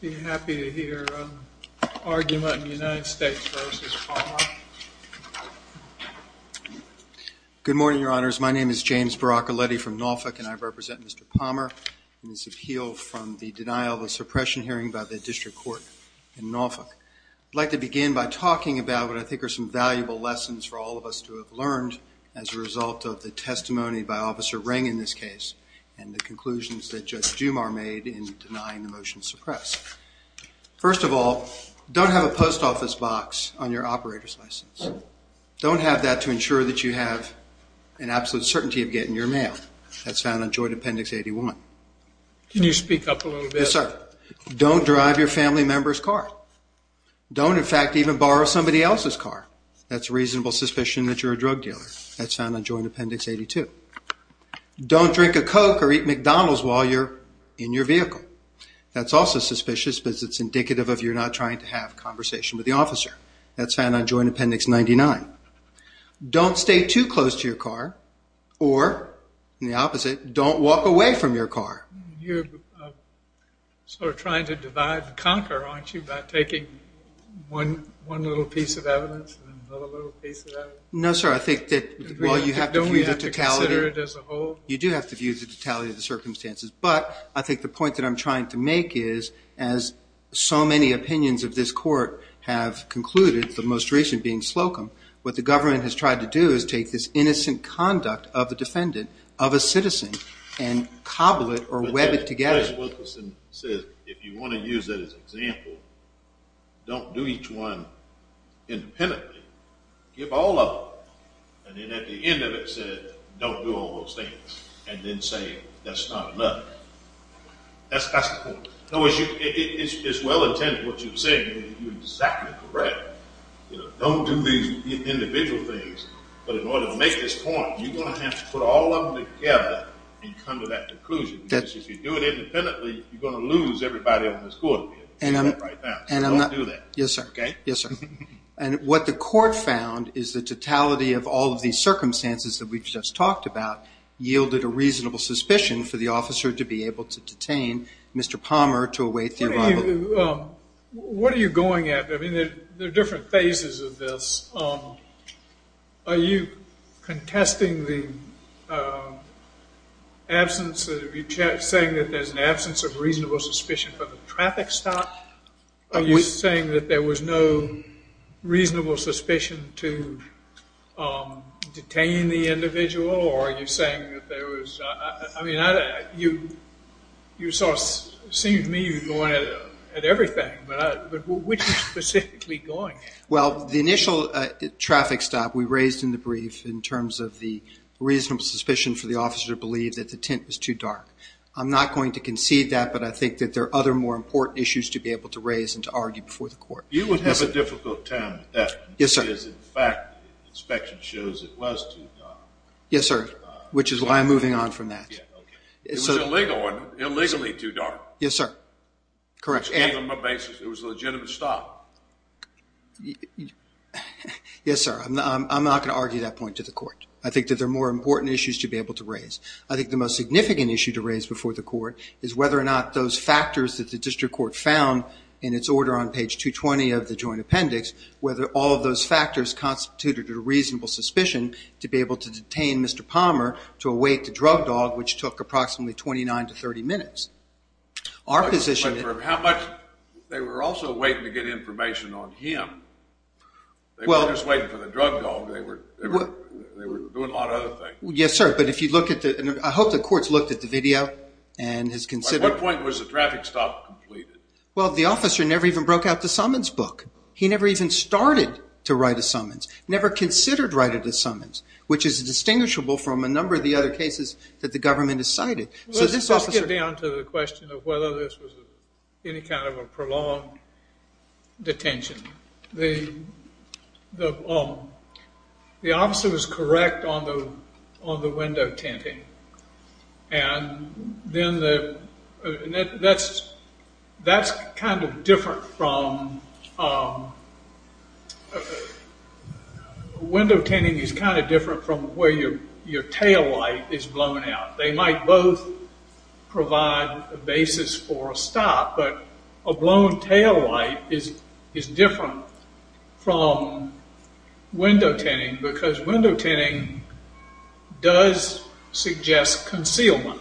Good morning, your honors. My name is James Baracoletti from Norfolk and I represent Mr. Palmer in his appeal from the denial of a suppression hearing by the district court in Norfolk. I'd like to begin by talking about what I think are some valuable lessons for all of us to have learned as a result of the testimony by Officer Ring in this case and the conclusions that Judge Jumar made in denying the motion to suppress. First of all, don't have a post office box on your operator's license. Don't have that to ensure that you have an absolute certainty of getting your mail. That's found on Joint Appendix 81. Can you speak up a little bit? Yes, sir. Don't drive your family member's car. Don't in fact even borrow somebody else's car. That's reasonable suspicion that you're a drug dealer. That's found on Joint Appendix 82. Don't drink a Coke or eat McDonald's while you're in your vehicle. That's also suspicious because it's indicative of you're not trying to have a conversation with the officer. That's found on Joint Appendix 99. Don't stay too close to your car or, in the opposite, don't walk away from your car. You're sort of trying to divide and conquer, aren't you, by taking one little piece of evidence and another little piece of evidence? No, sir. I think that while you have to view the totality of the circumstances, but I think the point that I'm trying to make is, as so many opinions of this court have concluded, the most recent being Slocum, what the government has tried to do is take this innocent conduct of a defendant, of a citizen, and cobble it or web it together. If you want to use that as an example, don't do each one independently. Give all of them. And then at the end of it, say, don't do all those things. And then say, that's not enough. That's the point. In other words, it's well-intended what you're saying. You're exactly correct. Don't do these individual things. But in order to make this point, you're going to have to put all of them together and come to that conclusion. Because if you do it independently, you're going to lose everybody on this court. Yes, sir. Yes, sir. And what the court found is the totality of all of these circumstances that we've just talked about yielded a reasonable suspicion for the officer to be able to detain Mr. Palmer to await the arrival. What are you going at? I mean, there are different phases of this. Are you contesting the absence, are you saying that there's an absence of reasonable suspicion for the traffic stop? Are you saying that there was no reasonable suspicion to detain the individual? Or are you saying that there was, I mean, you sort of seemed to me you were going at everything. But which is specifically going at? Well, the initial traffic stop we raised in the brief in terms of the reasonable suspicion for the officer to believe that the tent was too dark. I'm not going to concede that, but I think that there are other more important issues to be able to raise and to argue before the court. You would have a difficult time with that. Yes, sir. Because in fact, the inspection shows it was too dark. Yes, sir. Which is why I'm moving on from that. It was illegal and illegally too dark. Yes, sir. Correct. It was a legitimate stop. Yes, sir. I'm not going to argue that point to the court. I think that there are more important issues to be able to raise. I think the most significant issue to raise before the court is whether or not those factors that the district court found in its order on page 220 of the joint appendix, whether all of those factors constituted a reasonable suspicion to be able to detain Mr. Palmer to await the drug dog, which took approximately 29 to 30 minutes. They were also waiting to get information on him. They were just waiting for the drug dog. They were doing a lot of other things. Yes, sir. I hope the court's looked at the video and has considered it. At what point was the traffic stop completed? Well, the officer never even broke out the summons book. He never even started to write a summons, never considered writing a summons, which is distinguishable from a number of the other cases that the government has cited. Let's get down to the question of whether this was any kind of a prolonged detention. The officer was correct on the window tinting. That's kind of different from... Window tinting is kind of different from where your tail light is blown out. They might both provide a basis for a stop. A blown tail light is different from window tinting because window tinting does suggest concealment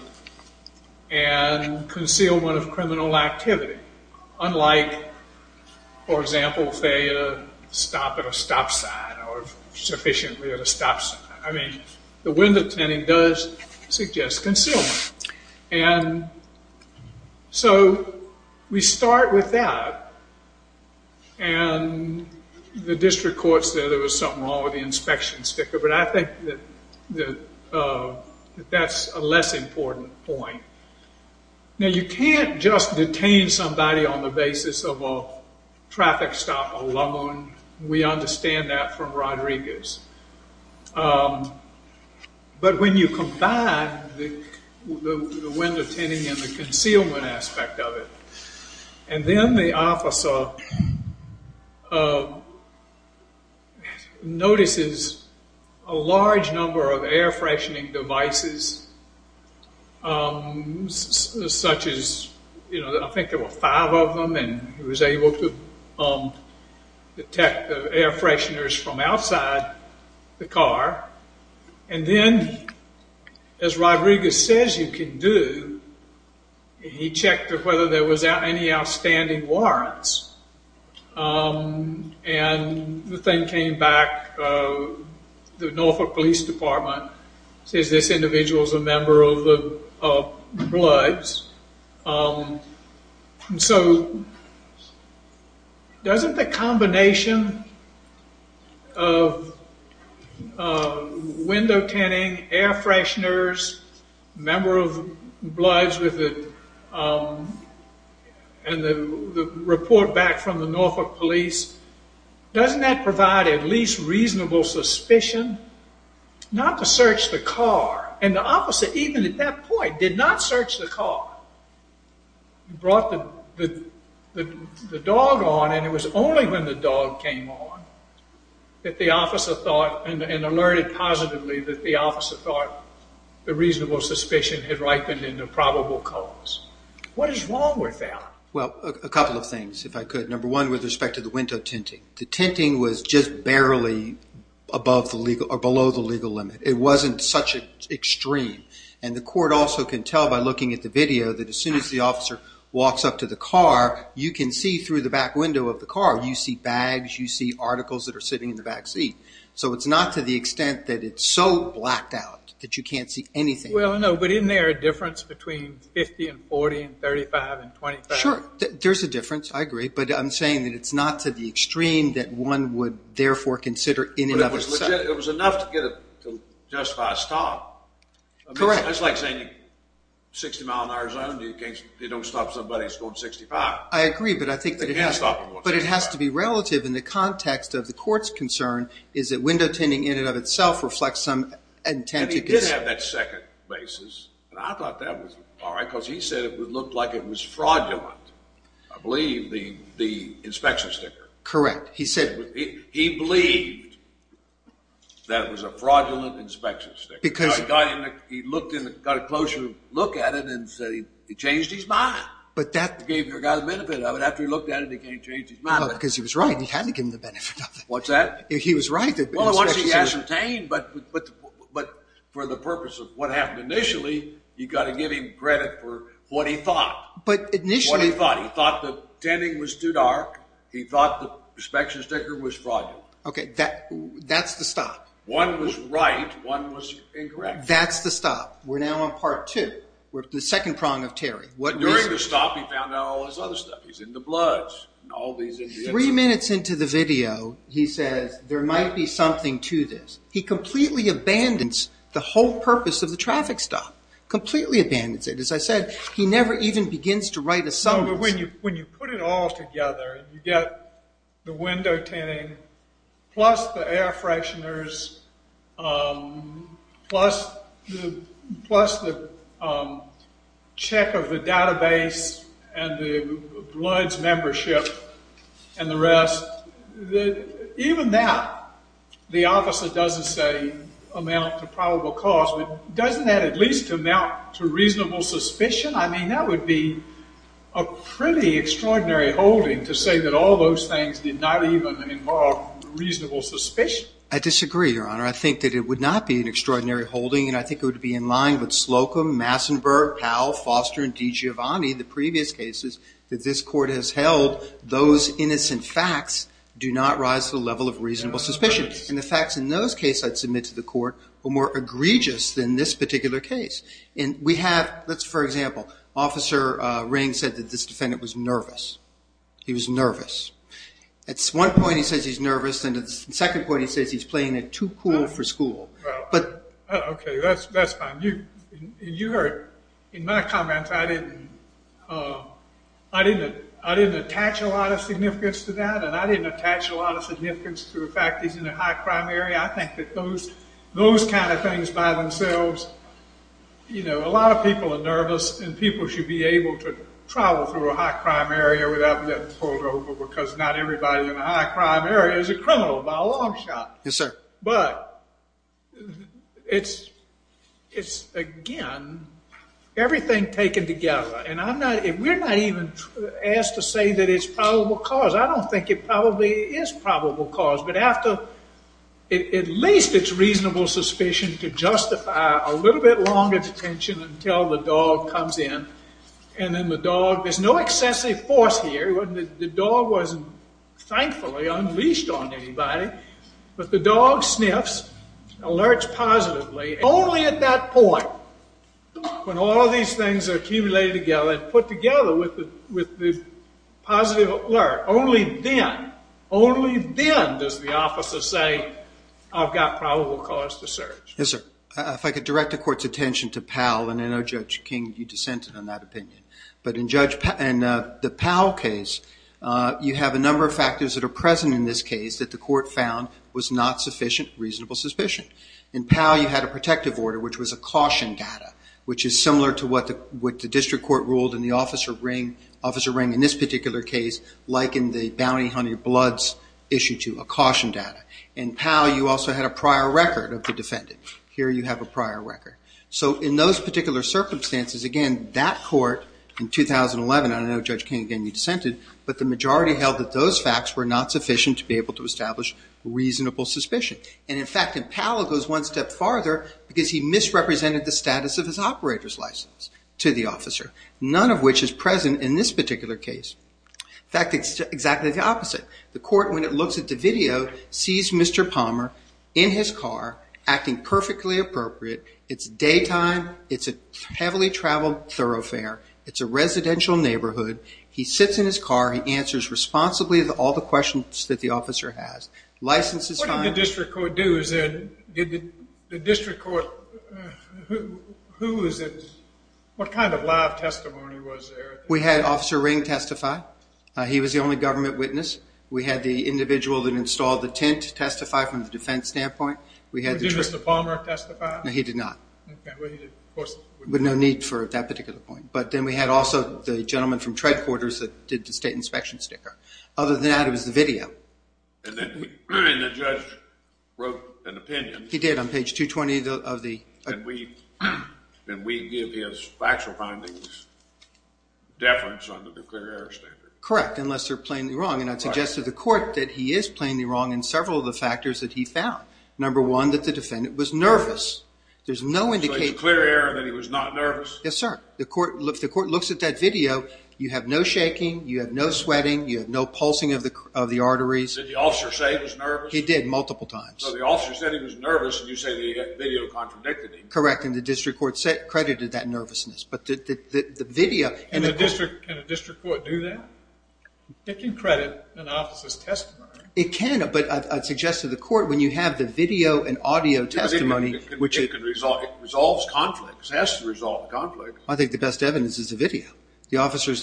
and concealment of criminal activity, unlike, for example, failure to stop at a stop sign or sufficiently at a stop sign. I mean, the window tinting does suggest concealment. We start with that and the district court said there was something wrong with the inspection sticker, but I think that that's a less important point. Now, you can't just detain somebody on the basis of a traffic stop alone. We understand that from Rodriguez, but when you combine the window tinting and the concealment aspect of it, and then the officer notices a large number of air freshening devices, such as, I think there were five of them, and he was able to detect the air fresheners from outside the car. Then, as Rodriguez says you can do, he checked whether there was any outstanding warrants, and the thing came back. The Norfolk Police Department says this individual's a member of the Bloods. So, doesn't the combination of window tinting, air fresheners, member of Bloods, and the report back from the Norfolk Police, doesn't that provide at least reasonable suspicion? Not to search the car, and the officer, even at that point, did not search the car. He brought the dog on, and it was only when the dog came on that the officer thought, and alerted positively, that the officer thought the reasonable suspicion had ripened into probable cause. What is wrong with that? Well, a couple of things, if I could. Number one, with respect to the window tinting. The tinting was just barely below the legal limit. It wasn't such an extreme, and the court also can tell by looking at the video that as soon as the officer walks up to the car, you can see through the back window of the car, you see bags, you see articles that are sitting in the back seat. So, it's not to the extent that it's so blacked out that you can't see anything. Well, no, but isn't there a difference between 50, and 40, and 35, and 25? Sure, there's a difference, I agree, but I'm saying that it's not to the extreme that one would, therefore, consider in and of itself. But it was enough to justify a stop. Correct. It's like saying 60 mile an hour zone, you don't stop somebody that's going 65. I agree, but I think that it has to be relative in the context of the court's concern, is that window tinting in and of itself reflects some intent. He did have that second basis, and I thought that was all right, because he said it looked like it was fraudulent, I believe, the inspection sticker. Correct, he said... He believed that it was a fraudulent inspection sticker. Because... He got a closer look at it and said he changed his mind. But that... He got the benefit of it, after he looked at it, he changed his mind. Because he was right, he had to give him the benefit of it. What's that? He was right. Well, once he ascertained, but for the purpose of what happened initially, you've got to give him credit for what he thought. But initially... What he thought. He thought the tinting was too dark, he thought the inspection sticker was fraudulent. Okay, that's the stop. One was right, one was incorrect. That's the stop. We're now on part two. We're at the second prong of Terry. During the stop, he found out all this other stuff. He's into bloods and all these... Three minutes into the video, he says, there might be something to this. He completely abandons the whole purpose of the traffic stop. Completely abandons it. As I said, he never even begins to write a summary. When you put it all together, you get the window tinting, plus the air fresheners, plus the check of the database and the bloods membership. And the rest. Even that, the officer doesn't say amount to probable cause, but doesn't that at least amount to reasonable suspicion? I mean, that would be a pretty extraordinary holding to say that all those things did not even involve reasonable suspicion. I disagree, Your Honor. I think that it would not be an extraordinary holding, and I think it would be in line with Slocum, Massenburg, Powell, Foster, and DiGiovanni, the previous cases that this court has held, those innocent facts do not rise to the level of reasonable suspicion. And the facts in those cases, I'd submit to the court, were more egregious than this particular case. And we have... Let's, for example, Officer Ring said that this defendant was nervous. He was nervous. At one point, he says he's nervous, and at the second point, he says he's playing it too cool for school. Okay, that's fine. You heard in my comments, I didn't attach a lot of significance to that, and I didn't attach a lot of significance to the fact that he's in a high-crime area. I think that those kind of things by themselves, you know, a lot of people are nervous, and people should be able to travel through a high-crime area without getting pulled over because not everybody in a high-crime area is a criminal by a long shot. Yes, sir. But it's, again, everything taken together. And we're not even asked to say that it's probable cause. I don't think it probably is probable cause. But at least it's reasonable suspicion to justify a little bit longer detention until the dog comes in. And then the dog, there's no excessive force here. The dog wasn't, thankfully, unleashed on anybody. But the dog sniffs, alerts positively. Only at that point, when all of these things are accumulated together and put together with the positive alert, only then, only then does the officer say, I've got probable cause to search. Yes, sir. If I could direct the Court's attention to Powell, and I know Judge King, you dissented on that opinion. But in the Powell case, you have a number of factors that are present in this case that the Court found was not sufficient reasonable suspicion. In Powell, you had a protective order, which was a caution data, which is similar to what the district court ruled in the Officer Ring in this particular case, like in the Bounty Hunter Bloods issue too, a caution data. In Powell, you also had a prior record of the defendant. Here you have a prior record. So in those particular circumstances, again, that court in 2011, and I know Judge King, again, you dissented, but the majority held that those facts were not sufficient to be able to establish reasonable suspicion. And, in fact, in Powell, it goes one step farther because he misrepresented the status of his operator's license to the officer, none of which is present in this particular case. In fact, it's exactly the opposite. The Court, when it looks at the video, sees Mr. Palmer in his car acting perfectly appropriate. It's daytime. It's a heavily traveled thoroughfare. It's a residential neighborhood. He sits in his car. He answers responsibly all the questions that the officer has. License is fine. What did the district court do? Did the district court, who is it, what kind of live testimony was there? We had Officer Ring testify. He was the only government witness. We had the individual that installed the tent testify from the defense standpoint. Did Mr. Palmer testify? No, he did not. Well, he did, of course. But no need for that particular point. But then we had also the gentleman from Treadquarters that did the state inspection sticker. Other than that, it was the video. And then the judge wrote an opinion. He did, on page 220 of the— And we give his factual findings deference under the clear error standard. Correct, unless they're plainly wrong. And I'd suggest to the Court that he is plainly wrong in several of the factors that he found. Number one, that the defendant was nervous. There's no indication— So it's a clear error that he was not nervous? Yes, sir. The Court looks at that video. You have no shaking. You have no sweating. You have no pulsing of the arteries. Did the officer say he was nervous? He did, multiple times. So the officer said he was nervous, and you say the video contradicted him. Correct, and the district court credited that nervousness. But the video— Can a district court do that? It can credit an officer's testimony. It can, but I'd suggest to the Court, when you have the video and audio testimony— It resolves conflicts. It has to resolve conflicts. I think the best evidence is the video. The officer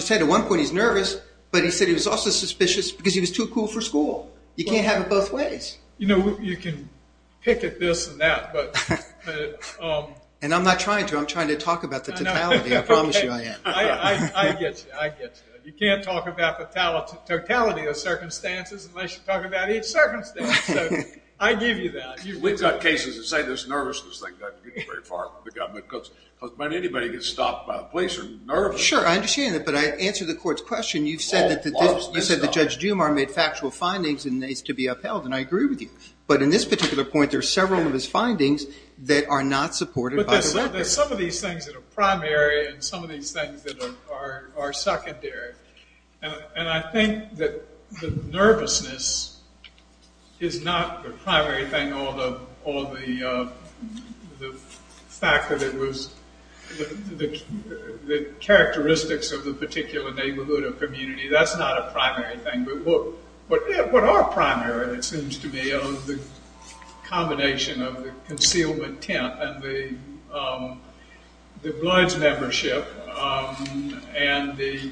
said at one point he's nervous, but he said he was also suspicious because he was too cool for school. You can't have it both ways. You can pick at this and that, but— And I'm not trying to. I'm trying to talk about the totality. I promise you I am. I get you. I get you. You can't talk about the totality of circumstances unless you talk about each circumstance. I give you that. We've got cases that say this nervousness thing doesn't get you very far with the government. Because when anybody gets stopped by the police, they're nervous. Sure, I understand that, but I answer the Court's question. You've said that Judge Dumar made factual findings, and it's to be upheld, and I agree with you. But in this particular point, there are several of his findings that are not supported by the legislature. But there's some of these things that are primary and some of these things that are secondary. And I think that the nervousness is not the primary thing, or the fact that it was the characteristics of the particular neighborhood or community. That's not a primary thing. What are primary, it seems to me, are the combination of the concealment tent and the Bloods membership and the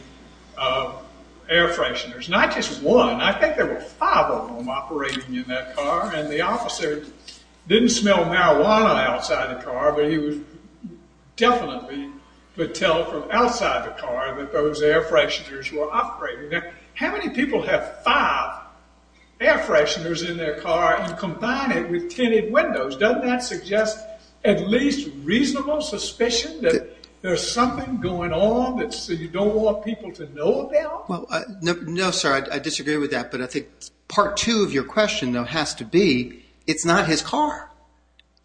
air fresheners. Not just one. I think there were five of them operating in that car, and the officer didn't smell marijuana outside the car, but he definitely could tell from outside the car that those air fresheners were operating there. How many people have five air fresheners in their car and combine it with tinted windows? Doesn't that suggest at least reasonable suspicion that there's something going on that you don't want people to know about? No, sir, I disagree with that. But I think part two of your question, though, has to be, it's not his car.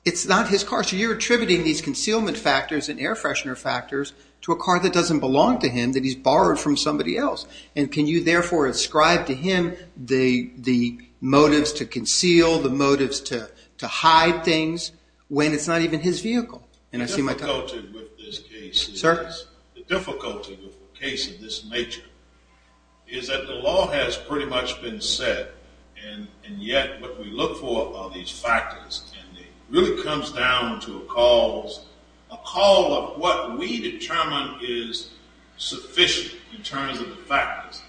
It's not his car. So you're attributing these concealment factors and air freshener factors to a car that doesn't belong to him, that he's borrowed from somebody else. And can you therefore ascribe to him the motives to conceal, the motives to hide things, when it's not even his vehicle? The difficulty with this case is that the law has pretty much been set, and yet what we look for are these factors. And it really comes down to a call of what we determine is sufficient in terms of the factors.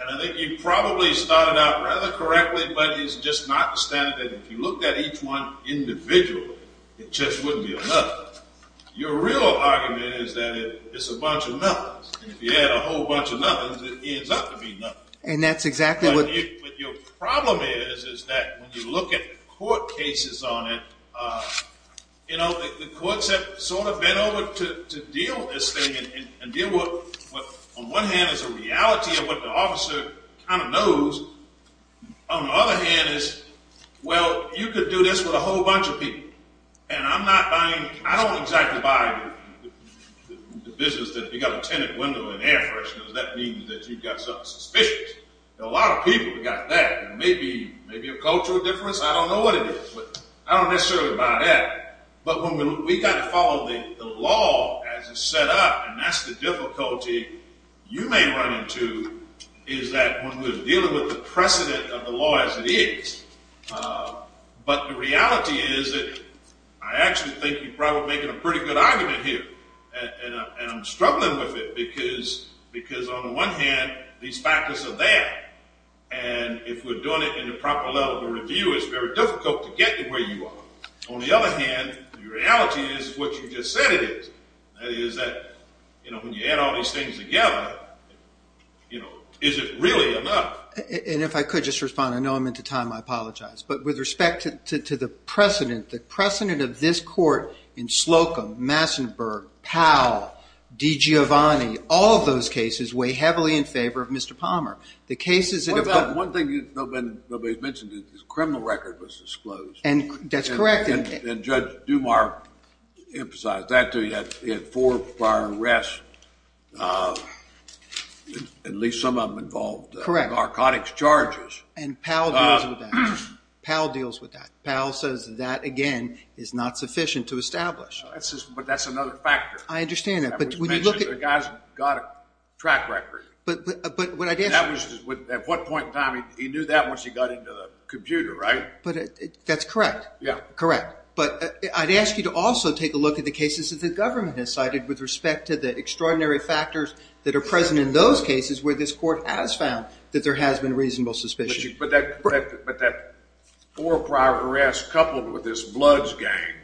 And I think you probably started out rather correctly, but it's just not the standard. If you looked at each one individually, it just wouldn't be enough. Your real argument is that it's a bunch of nothings. And if you add a whole bunch of nothings, it ends up to be nothing. And that's exactly what... But your problem is, is that when you look at court cases on it, you know, the courts have sort of bent over to deal with this thing and deal with what on one hand is a reality of what the officer kind of knows. On the other hand is, well, you could do this with a whole bunch of people. And I'm not buying, I don't exactly buy the business that you've got a tenant window and air fresheners. That means that you've got something suspicious. A lot of people have got that. Maybe a cultural difference. I don't know what it is. I don't necessarily buy that. But when we kind of follow the law as it's set up, and that's the difficulty you may run into, is that when we're dealing with the precedent of the law as it is. But the reality is that I actually think you're probably making a pretty good argument here. And I'm struggling with it because on the one hand, these factors are there. And if we're doing it in the proper level of review, it's very difficult to get to where you are. On the other hand, the reality is what you just said it is. That is that, you know, when you add all these things together, you know, is it really enough? And if I could just respond. I know I'm into time. I apologize. But with respect to the precedent, the precedent of this court in Slocum, Massenburg, Powell, DiGiovanni, all of those cases weigh heavily in favor of Mr. Palmer. What about one thing nobody's mentioned is the criminal record was disclosed. That's correct. And Judge Dumas emphasized that too. He had four prior arrests, at least some of them involved narcotics charges. And Powell deals with that. Powell deals with that. Powell says that, again, is not sufficient to establish. But that's another factor. I understand that. The guy's got a track record. At what point in time? He knew that once he got into the computer, right? That's correct. Yeah. Correct. But I'd ask you to also take a look at the cases that the government has cited with respect to the extraordinary factors that are present in those cases where this court has found that there has been reasonable suspicion. But that four prior arrests coupled with this Bloods Gang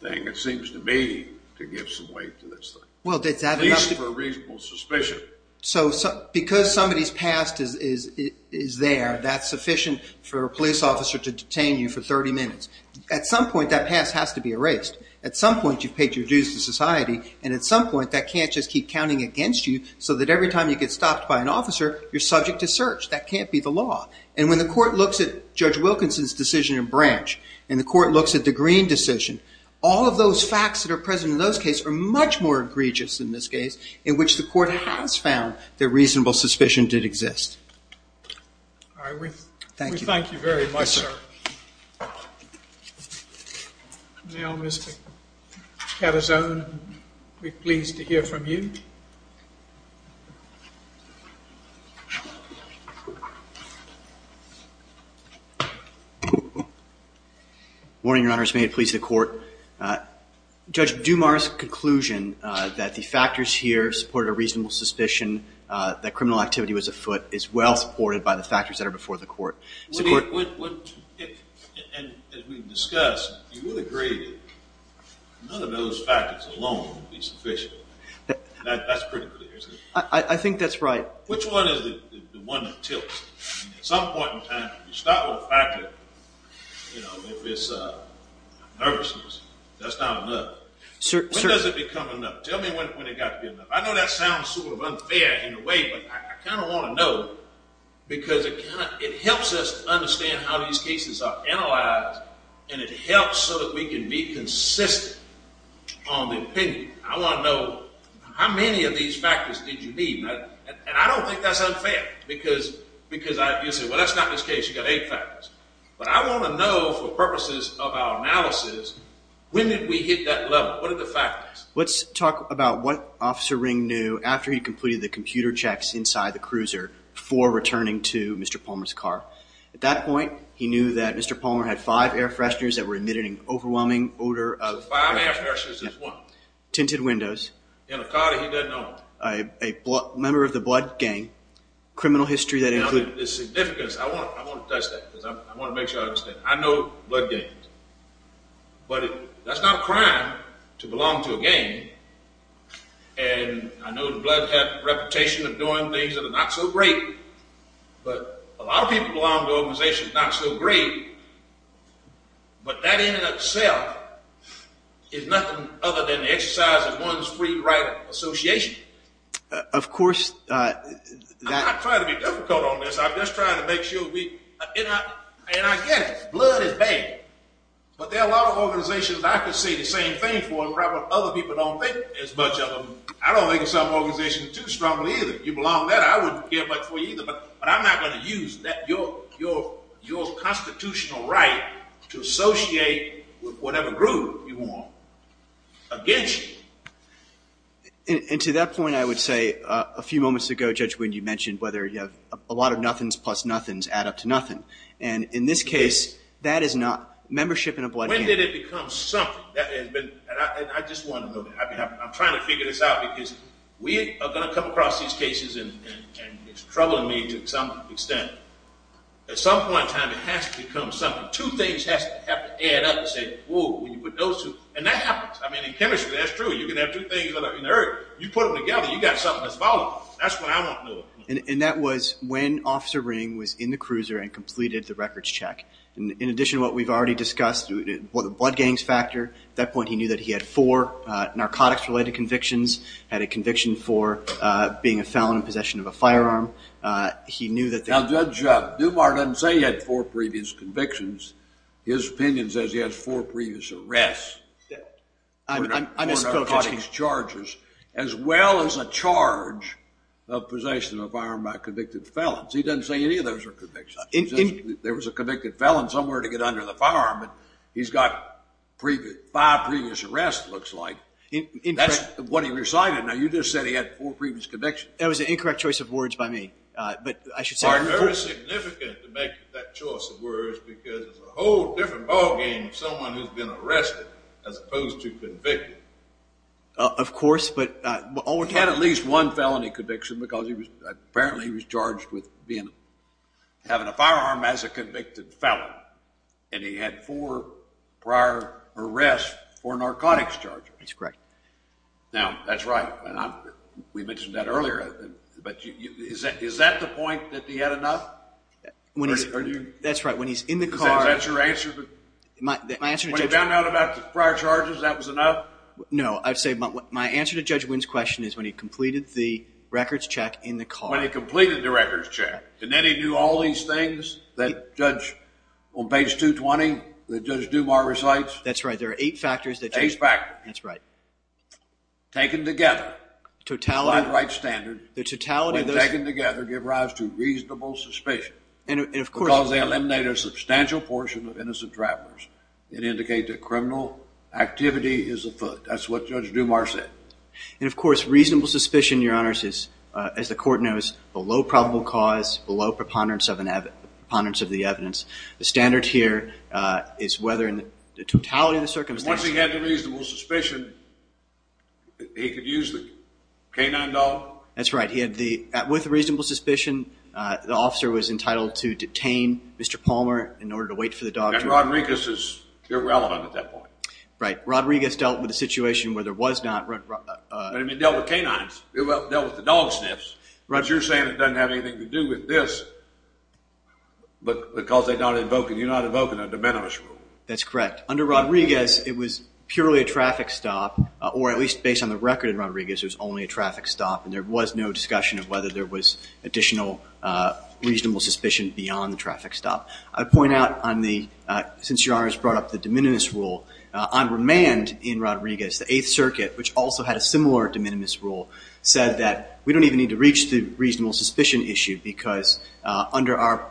thing, it seems to me to give some weight to this thing. Well, that's enough to At least for reasonable suspicion. So because somebody's past is there, that's sufficient for a police officer to detain you for 30 minutes. At some point, that past has to be erased. At some point, you've paid your dues to society. And at some point, that can't just keep counting against you so that every time you get stopped by an officer, you're subject to search. That can't be the law. And when the court looks at Judge Wilkinson's decision in Branch and the court looks at the Green decision, all of those facts that are present in those cases are much more egregious in this case in which the court has found that reasonable suspicion did exist. All right. We thank you very much, sir. Now, Mr. Catazon, we're pleased to hear from you. Morning, Your Honors. May it please the court. Judge Dumas' conclusion that the factors here support a reasonable suspicion that criminal activity was afoot is well supported by the factors that are before the court. As we've discussed, you would agree that none of those factors alone would be sufficient. That's pretty clear, isn't it? I think that's right. Which one is the one that tilts? At some point in time, you start with a factor, you know, if it's nervousness, that's not enough. When does it become enough? Tell me when it got to be enough. I know that sounds sort of unfair in a way, but I kind of want to know because it helps us understand how these cases are analyzed, and it helps so that we can be consistent on the opinion. I want to know how many of these factors did you need, and I don't think that's unfair because you say, well, that's not this case. You've got eight factors. But I want to know for purposes of our analysis, when did we hit that level? What are the factors? Let's talk about what Officer Ring knew after he completed the computer checks inside the cruiser before returning to Mr. Palmer's car. At that point, he knew that Mr. Palmer had five air fresheners that were emitted an overwhelming odor of… Five air fresheners is one. Tinted windows. In a car that he doesn't own. A member of the blood gang. Criminal history that included… Now, the significance, I want to touch that because I want to make sure I understand. I know blood gangs, but that's not a crime to belong to a gang, and I know the blood has a reputation of doing things that are not so great. But a lot of people belong to organizations not so great, but that in and of itself is nothing other than the exercise of one's free right association. Of course, that… I'm not trying to be difficult on this. I'm just trying to make sure we… And I get it. Blood is bad. But there are a lot of organizations I could say the same thing for and other people don't think as much of them. I don't think some organizations are too strong either. You belong there. I wouldn't care much for you either, but I'm not going to use your constitutional right to associate with whatever group you want against you. And to that point, I would say a few moments ago, Judge, when you mentioned whether you have a lot of nothings plus nothings add up to nothing. And in this case, that is not… Membership in a blood gang… When did it become something? I just want to know that. I'm trying to figure this out because we are going to come across these cases and it's troubling me to some extent. At some point in time, it has to become something. Two things have to add up and say, whoa, when you put those two… And that happens. I mean, in chemistry, that's true. You can have two things in there. You put them together, you've got something that's volatile. That's what I want to know. And that was when Officer Ring was in the cruiser and completed the records check. In addition to what we've already discussed, the blood gangs factor, at that point he knew that he had four narcotics-related convictions, had a conviction for being a felon in possession of a firearm. He knew that… Now, Judge, Dumar doesn't say he had four previous convictions. His opinion says he has four previous arrests for narcotics charges as well as a charge of possession of a firearm by convicted felons. He doesn't say any of those are convictions. He says there was a convicted felon somewhere to get under the firearm. He's got five previous arrests, it looks like. That's what he recited. Now, you just said he had four previous convictions. That was an incorrect choice of words by me, but I should say… It's very significant to make that choice of words because it's a whole different ballgame of someone who's been arrested as opposed to convicted. Of course, but he had at least one felony conviction because apparently he was charged with having a firearm as a convicted felon, and he had four prior arrests for narcotics charges. That's correct. Now, that's right. We mentioned that earlier, but is that the point that he had enough? That's right. When he's in the car… Is that your answer? My answer to Judge… When he found out about the prior charges, that was enough? No, I'd say my answer to Judge Wynn's question is when he completed the records check in the car. When he completed the records check. And then he knew all these things that Judge, on page 220, that Judge Dumar recites? That's right. There are eight factors that… Eight factors. That's right. Taken together… Totality… By the right standard… The totality of those… When taken together give rise to reasonable suspicion… And, of course… Because they eliminate a substantial portion of innocent travelers and indicate that criminal activity is afoot. That's what Judge Dumar said. And, of course, reasonable suspicion, Your Honors, is, as the court knows, below probable cause, below preponderance of the evidence. The standard here is whether in the totality of the circumstances… Once he had the reasonable suspicion, he could use the canine dog? That's right. He had the… With the reasonable suspicion, the officer was entitled to detain Mr. Palmer in order to wait for the dog to… And Rodriguez is irrelevant at that point. Right. Rodriguez dealt with a situation where there was not… But he dealt with canines. He dealt with the dog sniffs. But you're saying it doesn't have anything to do with this because you're not invoking a de minimis rule. That's correct. Under Rodriguez, it was purely a traffic stop, or at least based on the record in Rodriguez, it was only a traffic stop. And there was no discussion of whether there was additional reasonable suspicion beyond the traffic stop. I point out on the… Since Your Honors brought up the de minimis rule, on remand in Rodriguez, the Eighth Circuit, which also had a similar de minimis rule, said that we don't even need to reach the reasonable suspicion issue because under our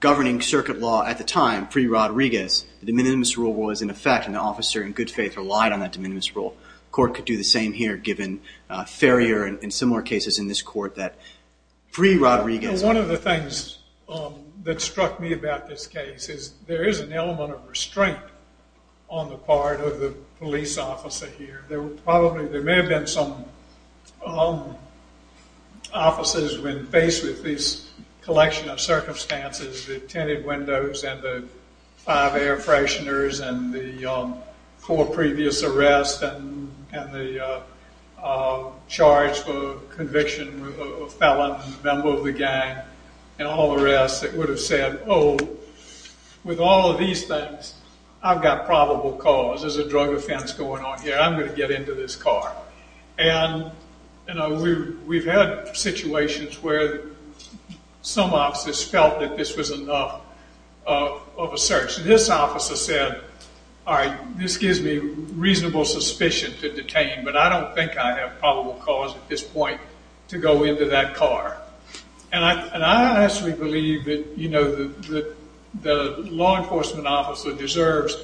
governing circuit law at the time, pre-Rodriguez, the de minimis rule was in effect, and the officer in good faith relied on that de minimis rule. The court could do the same here, given Ferrier and similar cases in this court that pre-Rodriguez… One of the things that struck me about this case is there is an element of restraint on the part of the police officer here. There were probably… Officers, when faced with this collection of circumstances, the tinted windows and the five air fresheners and the four previous arrests and the charge for conviction of a felon, a member of the gang, and all the rest, it would have said, oh, with all of these things, I've got probable cause. There's a drug offense going on here. I'm going to get into this car. And we've had situations where some officers felt that this was enough of a search. This officer said, all right, this gives me reasonable suspicion to detain, but I don't think I have probable cause at this point to go into that car. And I actually believe that the law enforcement officer deserves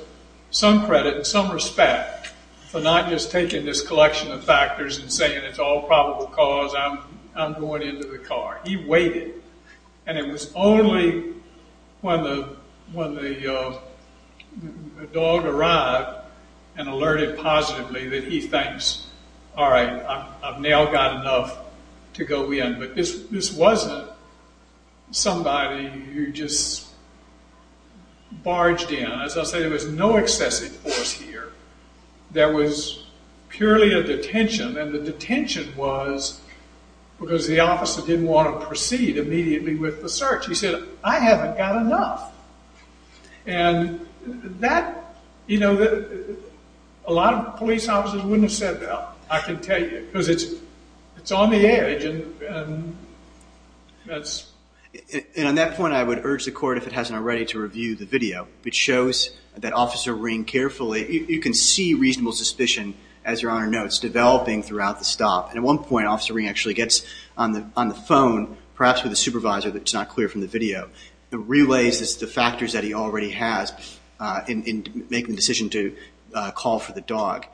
some credit and some respect for not just taking this collection of factors and saying it's all probable cause, I'm going into the car. He waited, and it was only when the dog arrived and alerted positively that he thinks, all right, I've now got enough to go in. But this wasn't somebody who just barged in. As I say, there was no excessive force here. There was purely a detention. And the detention was because the officer didn't want to proceed immediately with the search. He said, I haven't got enough. And that, you know, a lot of police officers wouldn't have said that, I can tell you, because it's on the air. And on that point, I would urge the court, if it hasn't already, to review the video, which shows that Officer Ring carefully, you can see reasonable suspicion, as Your Honor notes, developing throughout the stop. And at one point, Officer Ring actually gets on the phone, perhaps with the supervisor, but it's not clear from the video, and relays the factors that he already has in making the decision to call for the dog.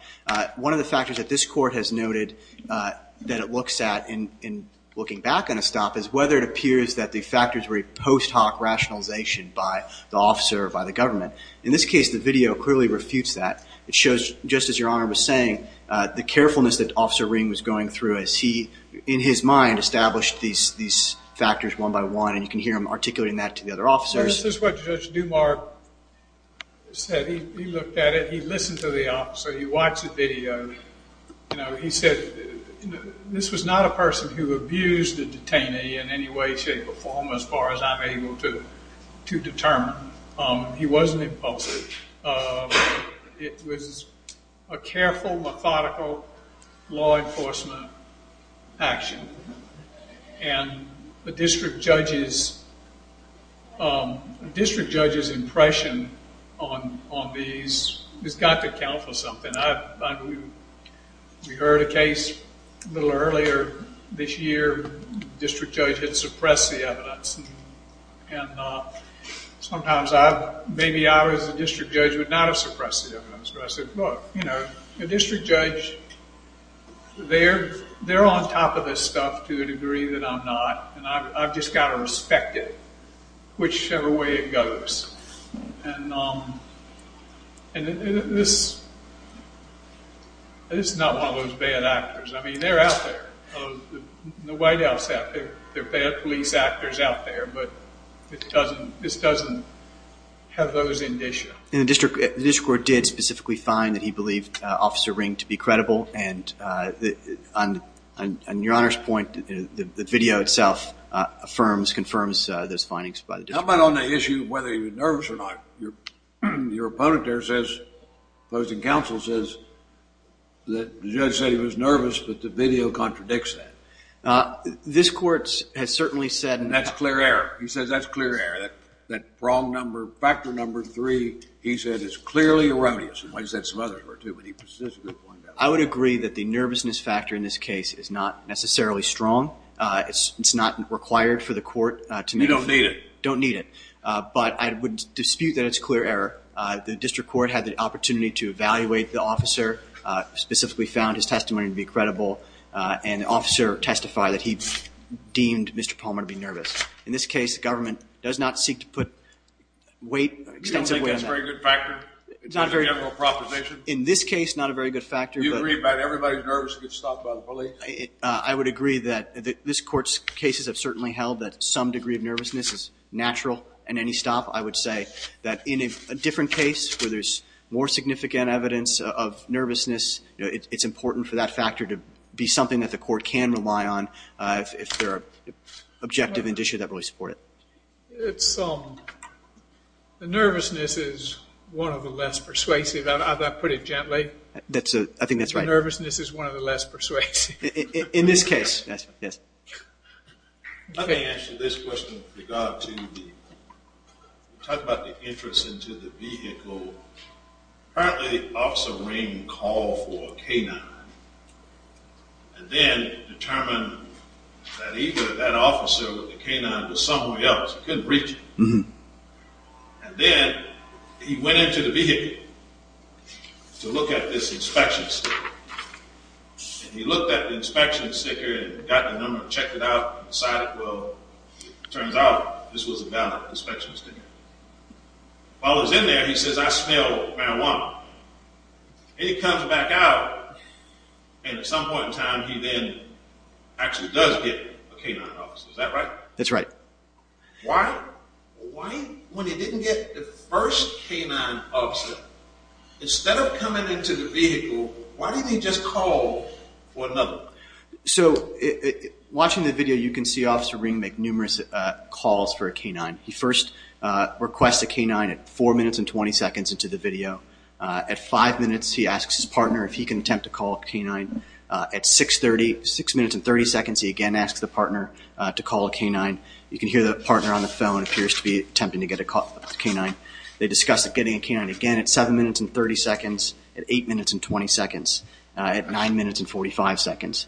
One of the factors that this court has noted that it looks at in looking back on a stop is whether it appears that the factors were a post hoc rationalization by the officer or by the government. In this case, the video clearly refutes that. It shows, just as Your Honor was saying, the carefulness that Officer Ring was going through as he, in his mind, established these factors one by one. And you can hear him articulating that to the other officers. This is what Judge Dumar said. He looked at it. He listened to the officer. He watched the video. He said, this was not a person who abused a detainee in any way, shape, or form, as far as I'm able to determine. He wasn't impulsive. It was a careful, methodical, law enforcement action. And the district judge's impression on these has got to count for something. We heard a case a little earlier this year. The district judge had suppressed the evidence. And sometimes maybe I, as a district judge, would not have suppressed the evidence. But I said, look, the district judge, they're on top of this stuff to the degree that I'm not. And I've just got to respect it, whichever way it goes. And this is not one of those bad actors. I mean, they're out there. The White House, they're bad police actors out there. But this doesn't have those indicia. And the district court did specifically find that he believed Officer Ring to be credible. And on Your Honor's point, the video itself affirms, confirms those findings by the district. How about on the issue of whether he was nervous or not? Your opponent there says, opposing counsel says that the judge said he was nervous, but the video contradicts that. This court has certainly said. And that's clear error. He says that's clear error. That prong number, factor number three, he said is clearly erroneous. And he said some others were, too. But he persistently pointed out that. I would agree that the nervousness factor in this case is not necessarily strong. It's not required for the court to make a decision. You don't need it. Don't need it. But I would dispute that it's clear error. The district court had the opportunity to evaluate the officer, specifically found his testimony to be credible. And the officer testified that he deemed Mr. Palmer to be nervous. In this case, the government does not seek to put weight, extensive weight on that. You don't think that's a very good factor? It's not very good. It's a general proposition. In this case, not a very good factor. Do you agree that everybody's nervous gets stopped by the police? I would agree that this court's cases have certainly held that some degree of nervousness is natural in any stop. I would say that in a different case where there's more significant evidence of nervousness, it's important for that factor to be something that the court can rely on if there are objective indicia that really support it. The nervousness is one of the less persuasive, if I put it gently. I think that's right. The nervousness is one of the less persuasive. In this case, yes. Let me answer this question with regard to the talk about the entrance into the vehicle. Apparently, Officer Raines called for a K-9 and then determined that either that officer or the K-9 was somewhere else. He couldn't reach it. And then he went into the vehicle to look at this inspection sticker. And he looked at the inspection sticker and got the number and checked it out and decided, well, it turns out this was a valid inspection sticker. While he was in there, he says, I smell marijuana. And he comes back out, and at some point in time, he then actually does get a K-9 officer. Is that right? That's right. Why, when he didn't get the first K-9 officer, instead of coming into the vehicle, why didn't he just call for another one? So, watching the video, you can see Officer Raines make numerous calls for a K-9. He first requests a K-9 at 4 minutes and 20 seconds into the video. At 5 minutes, he asks his partner if he can attempt to call a K-9. At 6 minutes and 30 seconds, he again asks the partner to call a K-9. You can hear the partner on the phone appears to be attempting to get a call for a K-9. They discuss getting a K-9 again at 7 minutes and 30 seconds, at 8 minutes and 20 seconds, at 9 minutes and 45 seconds.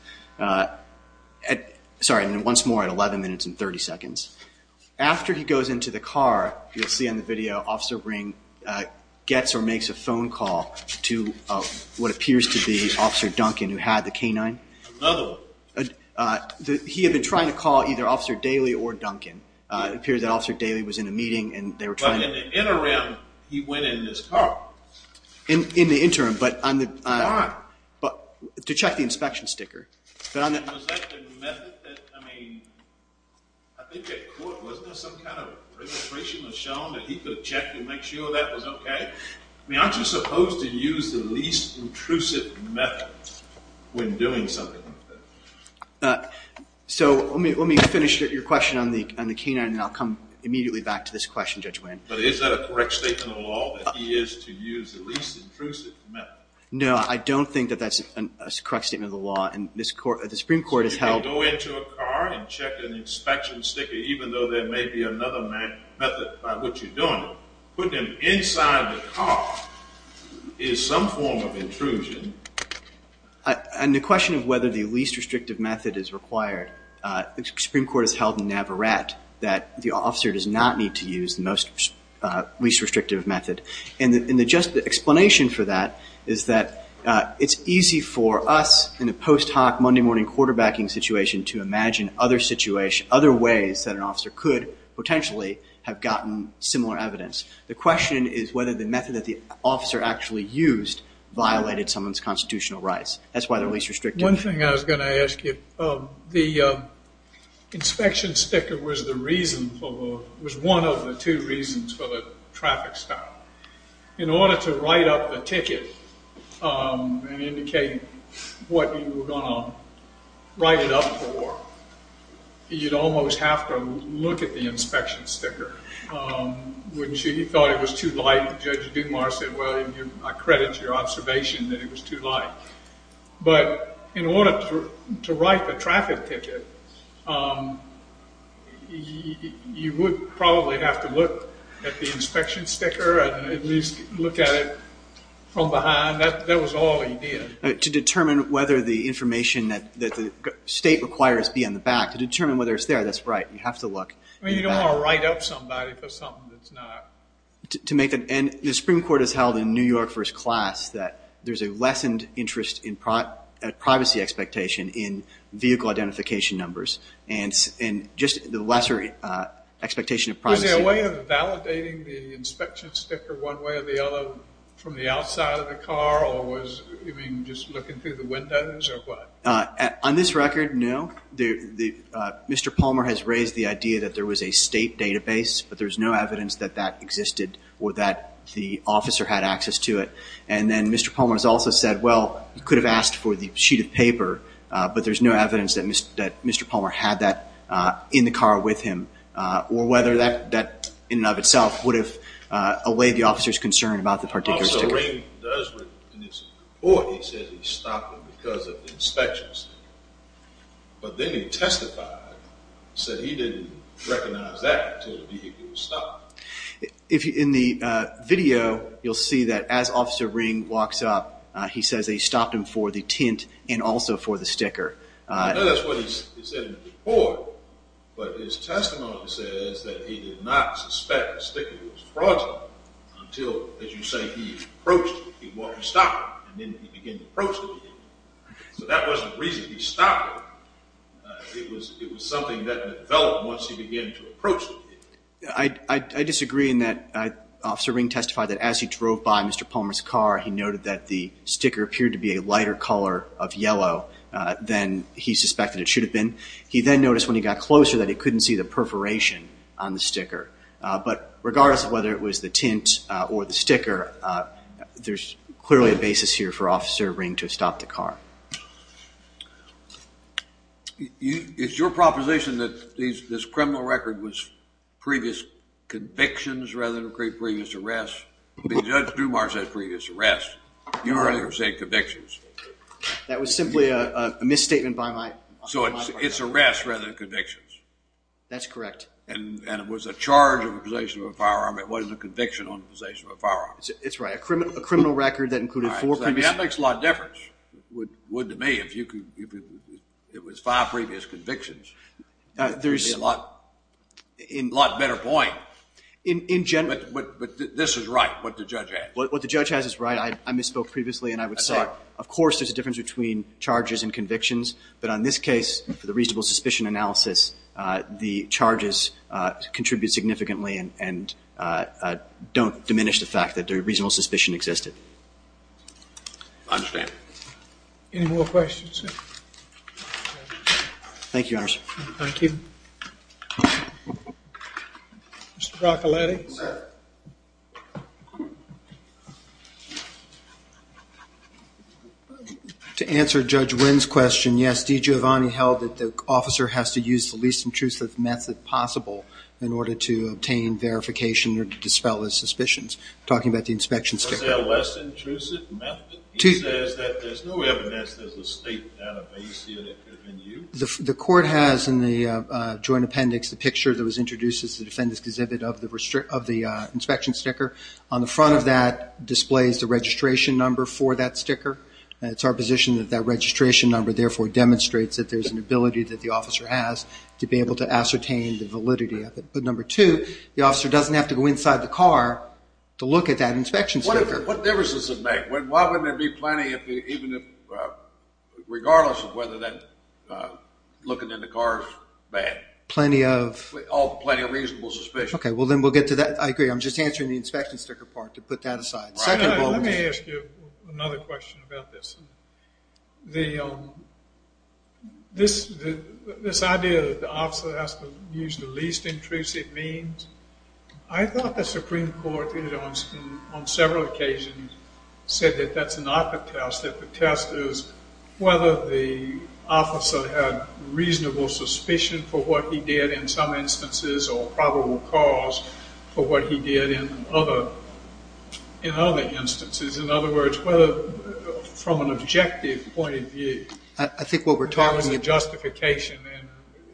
Sorry, once more, at 11 minutes and 30 seconds. After he goes into the car, you'll see in the video, Officer Raines gets or makes a phone call to what appears to be Officer Duncan, who had the K-9. Another one. He had been trying to call either Officer Daly or Duncan. It appears that Officer Daly was in a meeting, and they were trying to… But in the interim, he went in his car. In the interim, but on the… The car. To check the inspection sticker. Was that the method that, I mean, I think at court, wasn't there some kind of registration that was shown that he could check and make sure that was okay? I mean, aren't you supposed to use the least intrusive method when doing something like that? So, let me finish your question on the K-9, and then I'll come immediately back to this question, Judge Wayne. But is that a correct statement of the law, that he is to use the least intrusive method? No, I don't think that that's a correct statement of the law. And the Supreme Court has held… So, you can go into a car and check an inspection sticker, even though there may be another method by which you're doing it. Putting them inside the car is some form of intrusion. And the question of whether the least restrictive method is required, the Supreme Court has held in Navarat that the officer does not need to use the least restrictive method. And the just explanation for that is that it's easy for us in a post hoc Monday morning quarterbacking situation to imagine other ways that an officer could potentially have gotten similar evidence. The question is whether the method that the officer actually used violated someone's constitutional rights. That's why they're least restrictive. One thing I was going to ask you. The inspection sticker was one of the two reasons for the traffic stop. In order to write up the ticket and indicate what you were going to write it up for, you'd almost have to look at the inspection sticker. When she thought it was too light, Judge Dumas said, well, I credit your observation that it was too light. But in order to write the traffic ticket, you would probably have to look at the inspection sticker and at least look at it from behind. That was all he did. To determine whether the information that the state requires be on the back, to determine whether it's there, that's right. You have to look. You don't want to write up somebody for something that's not. The Supreme Court has held in New York for its class that there's a lessened interest in privacy expectation in vehicle identification numbers and just the lesser expectation of privacy. Was there a way of validating the inspection sticker one way or the other from the outside of the car or was it just looking through the windows or what? On this record, no. Mr. Palmer has raised the idea that there was a state database, but there's no evidence that that existed or that the officer had access to it. And then Mr. Palmer has also said, well, he could have asked for the sheet of paper, but there's no evidence that Mr. Palmer had that in the car with him or whether that in and of itself would have allayed the officer's concern about the particular sticker. Officer Ring does, in his report, he says he stopped him because of the inspection sticker. But then he testified and said he didn't recognize that until the vehicle was stopped. In the video, you'll see that as Officer Ring walks up, he says they stopped him for the tint and also for the sticker. I know that's what he said in the report, but his testimony says that he did not suspect the sticker was fraudulent until, as you say, he approached it, he walked and stopped it, and then he began to approach the vehicle. So that wasn't the reason he stopped it. It was something that developed once he began to approach it. I disagree in that Officer Ring testified that as he drove by Mr. Palmer's car, he noted that the sticker appeared to be a lighter color of yellow than he suspected it should have been. He then noticed when he got closer that he couldn't see the perforation on the sticker. There's clearly a basis here for Officer Ring to have stopped the car. It's your proposition that this criminal record was previous convictions rather than previous arrests? Judge Dumar said previous arrests. You're saying convictions. That was simply a misstatement by my partner. So it's arrests rather than convictions. That's correct. And it was a charge of possession of a firearm. It wasn't a conviction on possession of a firearm. It's right. A criminal record that included four previous convictions. That makes a lot of difference. It would to me if it was five previous convictions. That would be a lot better point. In general. But this is right, what the judge has. What the judge has is right. I misspoke previously, and I would say of course there's a difference between charges and convictions. But on this case, for the reasonable suspicion analysis, the charges contribute significantly and don't diminish the fact that the reasonable suspicion existed. I understand. Any more questions? Thank you, Your Honor. Thank you. Mr. Broccoletti. To answer Judge Wynn's question, yes, DiGiovanni held that the officer has to use the least intrusive method possible in order to obtain verification or to dispel his suspicions. Talking about the inspection. Was there a less intrusive method? He says that there's no evidence there's a state database here that could have been used. The court has in the joint appendix the picture that was introduced as the defendant's exhibit of the inspection sticker. On the front of that displays the registration number for that sticker. It's our position that that registration number therefore demonstrates that there's an ability that the officer has to be able to ascertain the validity of it. But number two, the officer doesn't have to go inside the car to look at that inspection sticker. What difference does it make? Why wouldn't there be plenty regardless of whether looking in the car is bad? Plenty of? Oh, plenty of reasonable suspicion. Okay, well then we'll get to that. I agree. I'm just answering the inspection sticker part to put that aside. Let me ask you another question about this. This idea that the officer has to use the least intrusive means, I thought the Supreme Court on several occasions said that that's not the test. The test is whether the officer had reasonable suspicion for what he did in some instances or probable cause for what he did in other instances. In other words, from an objective point of view, I think what we're talking about is a justification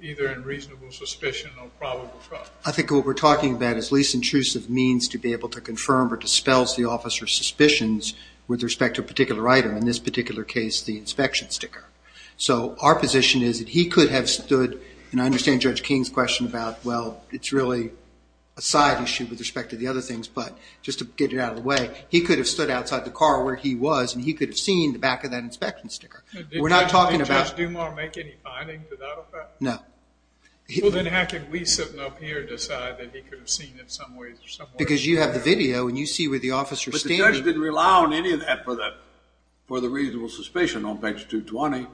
either in reasonable suspicion or probable cause. I think what we're talking about is least intrusive means to be able to confirm or dispel the officer's suspicions with respect to a particular item, in this particular case the inspection sticker. So our position is that he could have stood, and I understand Judge King's question about, well, it's really a side issue with respect to the other things, but just to get it out of the way, he could have stood outside the car where he was and he could have seen the back of that inspection sticker. Did Judge Dumas make any findings to that effect? No. Well, then how could we sitting up here decide that he could have seen it some ways or some ways? Because you have the video and you see where the officer's standing. But the judge didn't rely on any of that for the reasonable suspicion on page 220.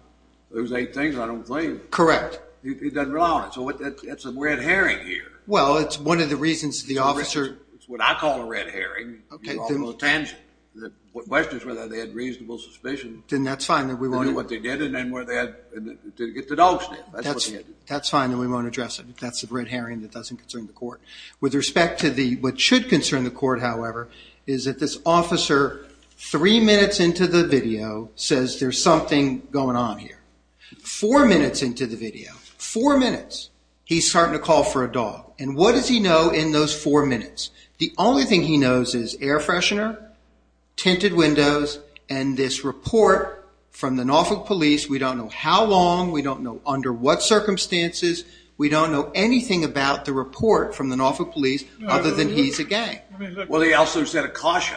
Those eight things, I don't believe. Correct. He doesn't rely on it. So it's a red herring here. Well, it's one of the reasons the officer – It's what I call a red herring. Okay. The question is whether they had reasonable suspicion. Then that's fine. I know what they did and then where they had to get the dog sniffed. That's fine. Then we won't address it. That's a red herring that doesn't concern the court. With respect to what should concern the court, however, is that this officer three minutes into the video says there's something going on here. Four minutes into the video, four minutes, he's starting to call for a dog. And what does he know in those four minutes? The only thing he knows is air freshener, tinted windows, and this report from the Norfolk Police. We don't know how long. We don't know under what circumstances. We don't know anything about the report from the Norfolk Police other than he's a gang. Well, he also said a caution.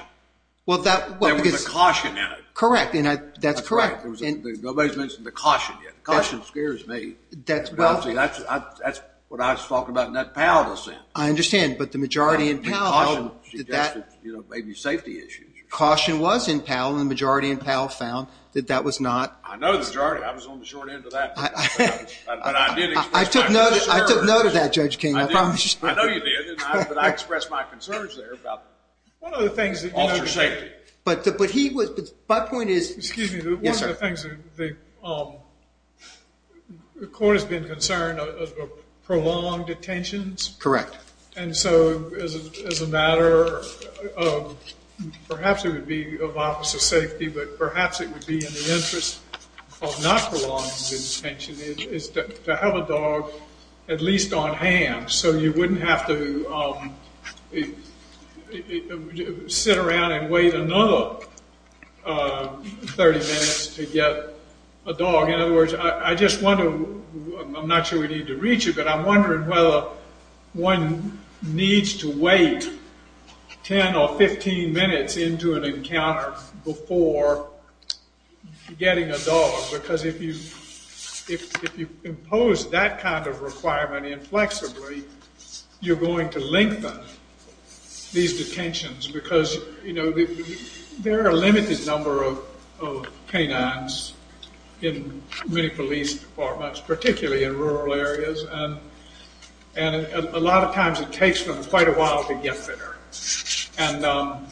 Well, that – There was a caution in it. Correct. That's correct. Nobody's mentioned the caution yet. The caution scares me. That's what I was talking about in that parallel sentence. I understand. But the majority in Powell – Caution suggested maybe safety issues. Caution was in Powell. The majority in Powell found that that was not – I know the majority. I was on the short end of that. But I did express my concern. I took note of that, Judge King. I promise you. I know you did. But I expressed my concerns there about officer safety. But he was – my point is – Excuse me. Yes, sir. One of the things the court has been concerned of are prolonged attentions. Correct. And so, as a matter of – perhaps it would be of officer safety, but perhaps it would be in the interest of not prolonging the attention, is to have a dog at least on hand so you wouldn't have to sit around and wait another 30 minutes to get a dog. In other words, I just wonder – I'm not sure we need to read you, but I'm wondering whether one needs to wait 10 or 15 minutes into an encounter before getting a dog because if you impose that kind of requirement inflexibly, you're going to lengthen these detentions because, you know, there are a limited number of canines in many police departments, particularly in rural areas, and a lot of times it takes them quite a while to get there. And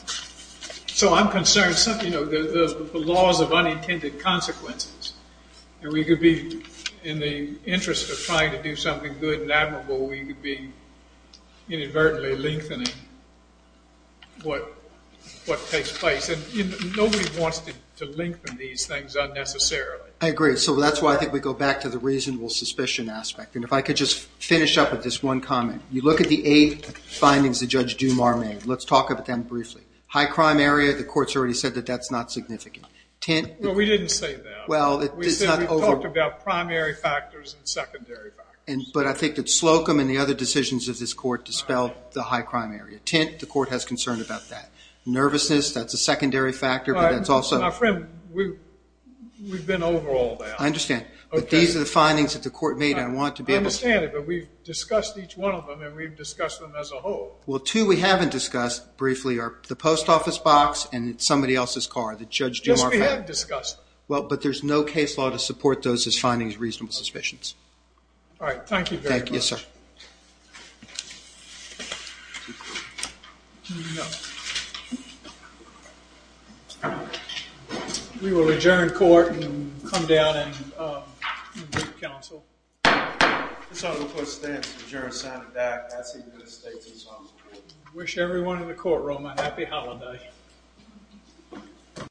so I'm concerned, you know, the laws of unintended consequences. And we could be – in the interest of trying to do something good and admirable, we could be inadvertently lengthening what takes place. And nobody wants to lengthen these things unnecessarily. I agree. So that's why I think we go back to the reasonable suspicion aspect. And if I could just finish up with this one comment. You look at the eight findings that Judge Dumar made. Let's talk about them briefly. High crime area, the court's already said that that's not significant. Well, we didn't say that. We talked about primary factors and secondary factors. But I think that Slocum and the other decisions of this court dispelled the high crime area. Tint, the court has concern about that. Nervousness, that's a secondary factor. My friend, we've been over all that. I understand. But these are the findings that the court made and I want to be able to – I understand it. But we've discussed each one of them and we've discussed them as a whole. Well, two we haven't discussed briefly are the post office box and somebody else's car, the Judge Dumar car. Yes, we have discussed them. Well, but there's no case law to support those as findings of reasonable suspicions. All right. Thank you very much. Thank you, sir. We will adjourn court and come down and do council. Wish everyone in the courtroom a happy holiday.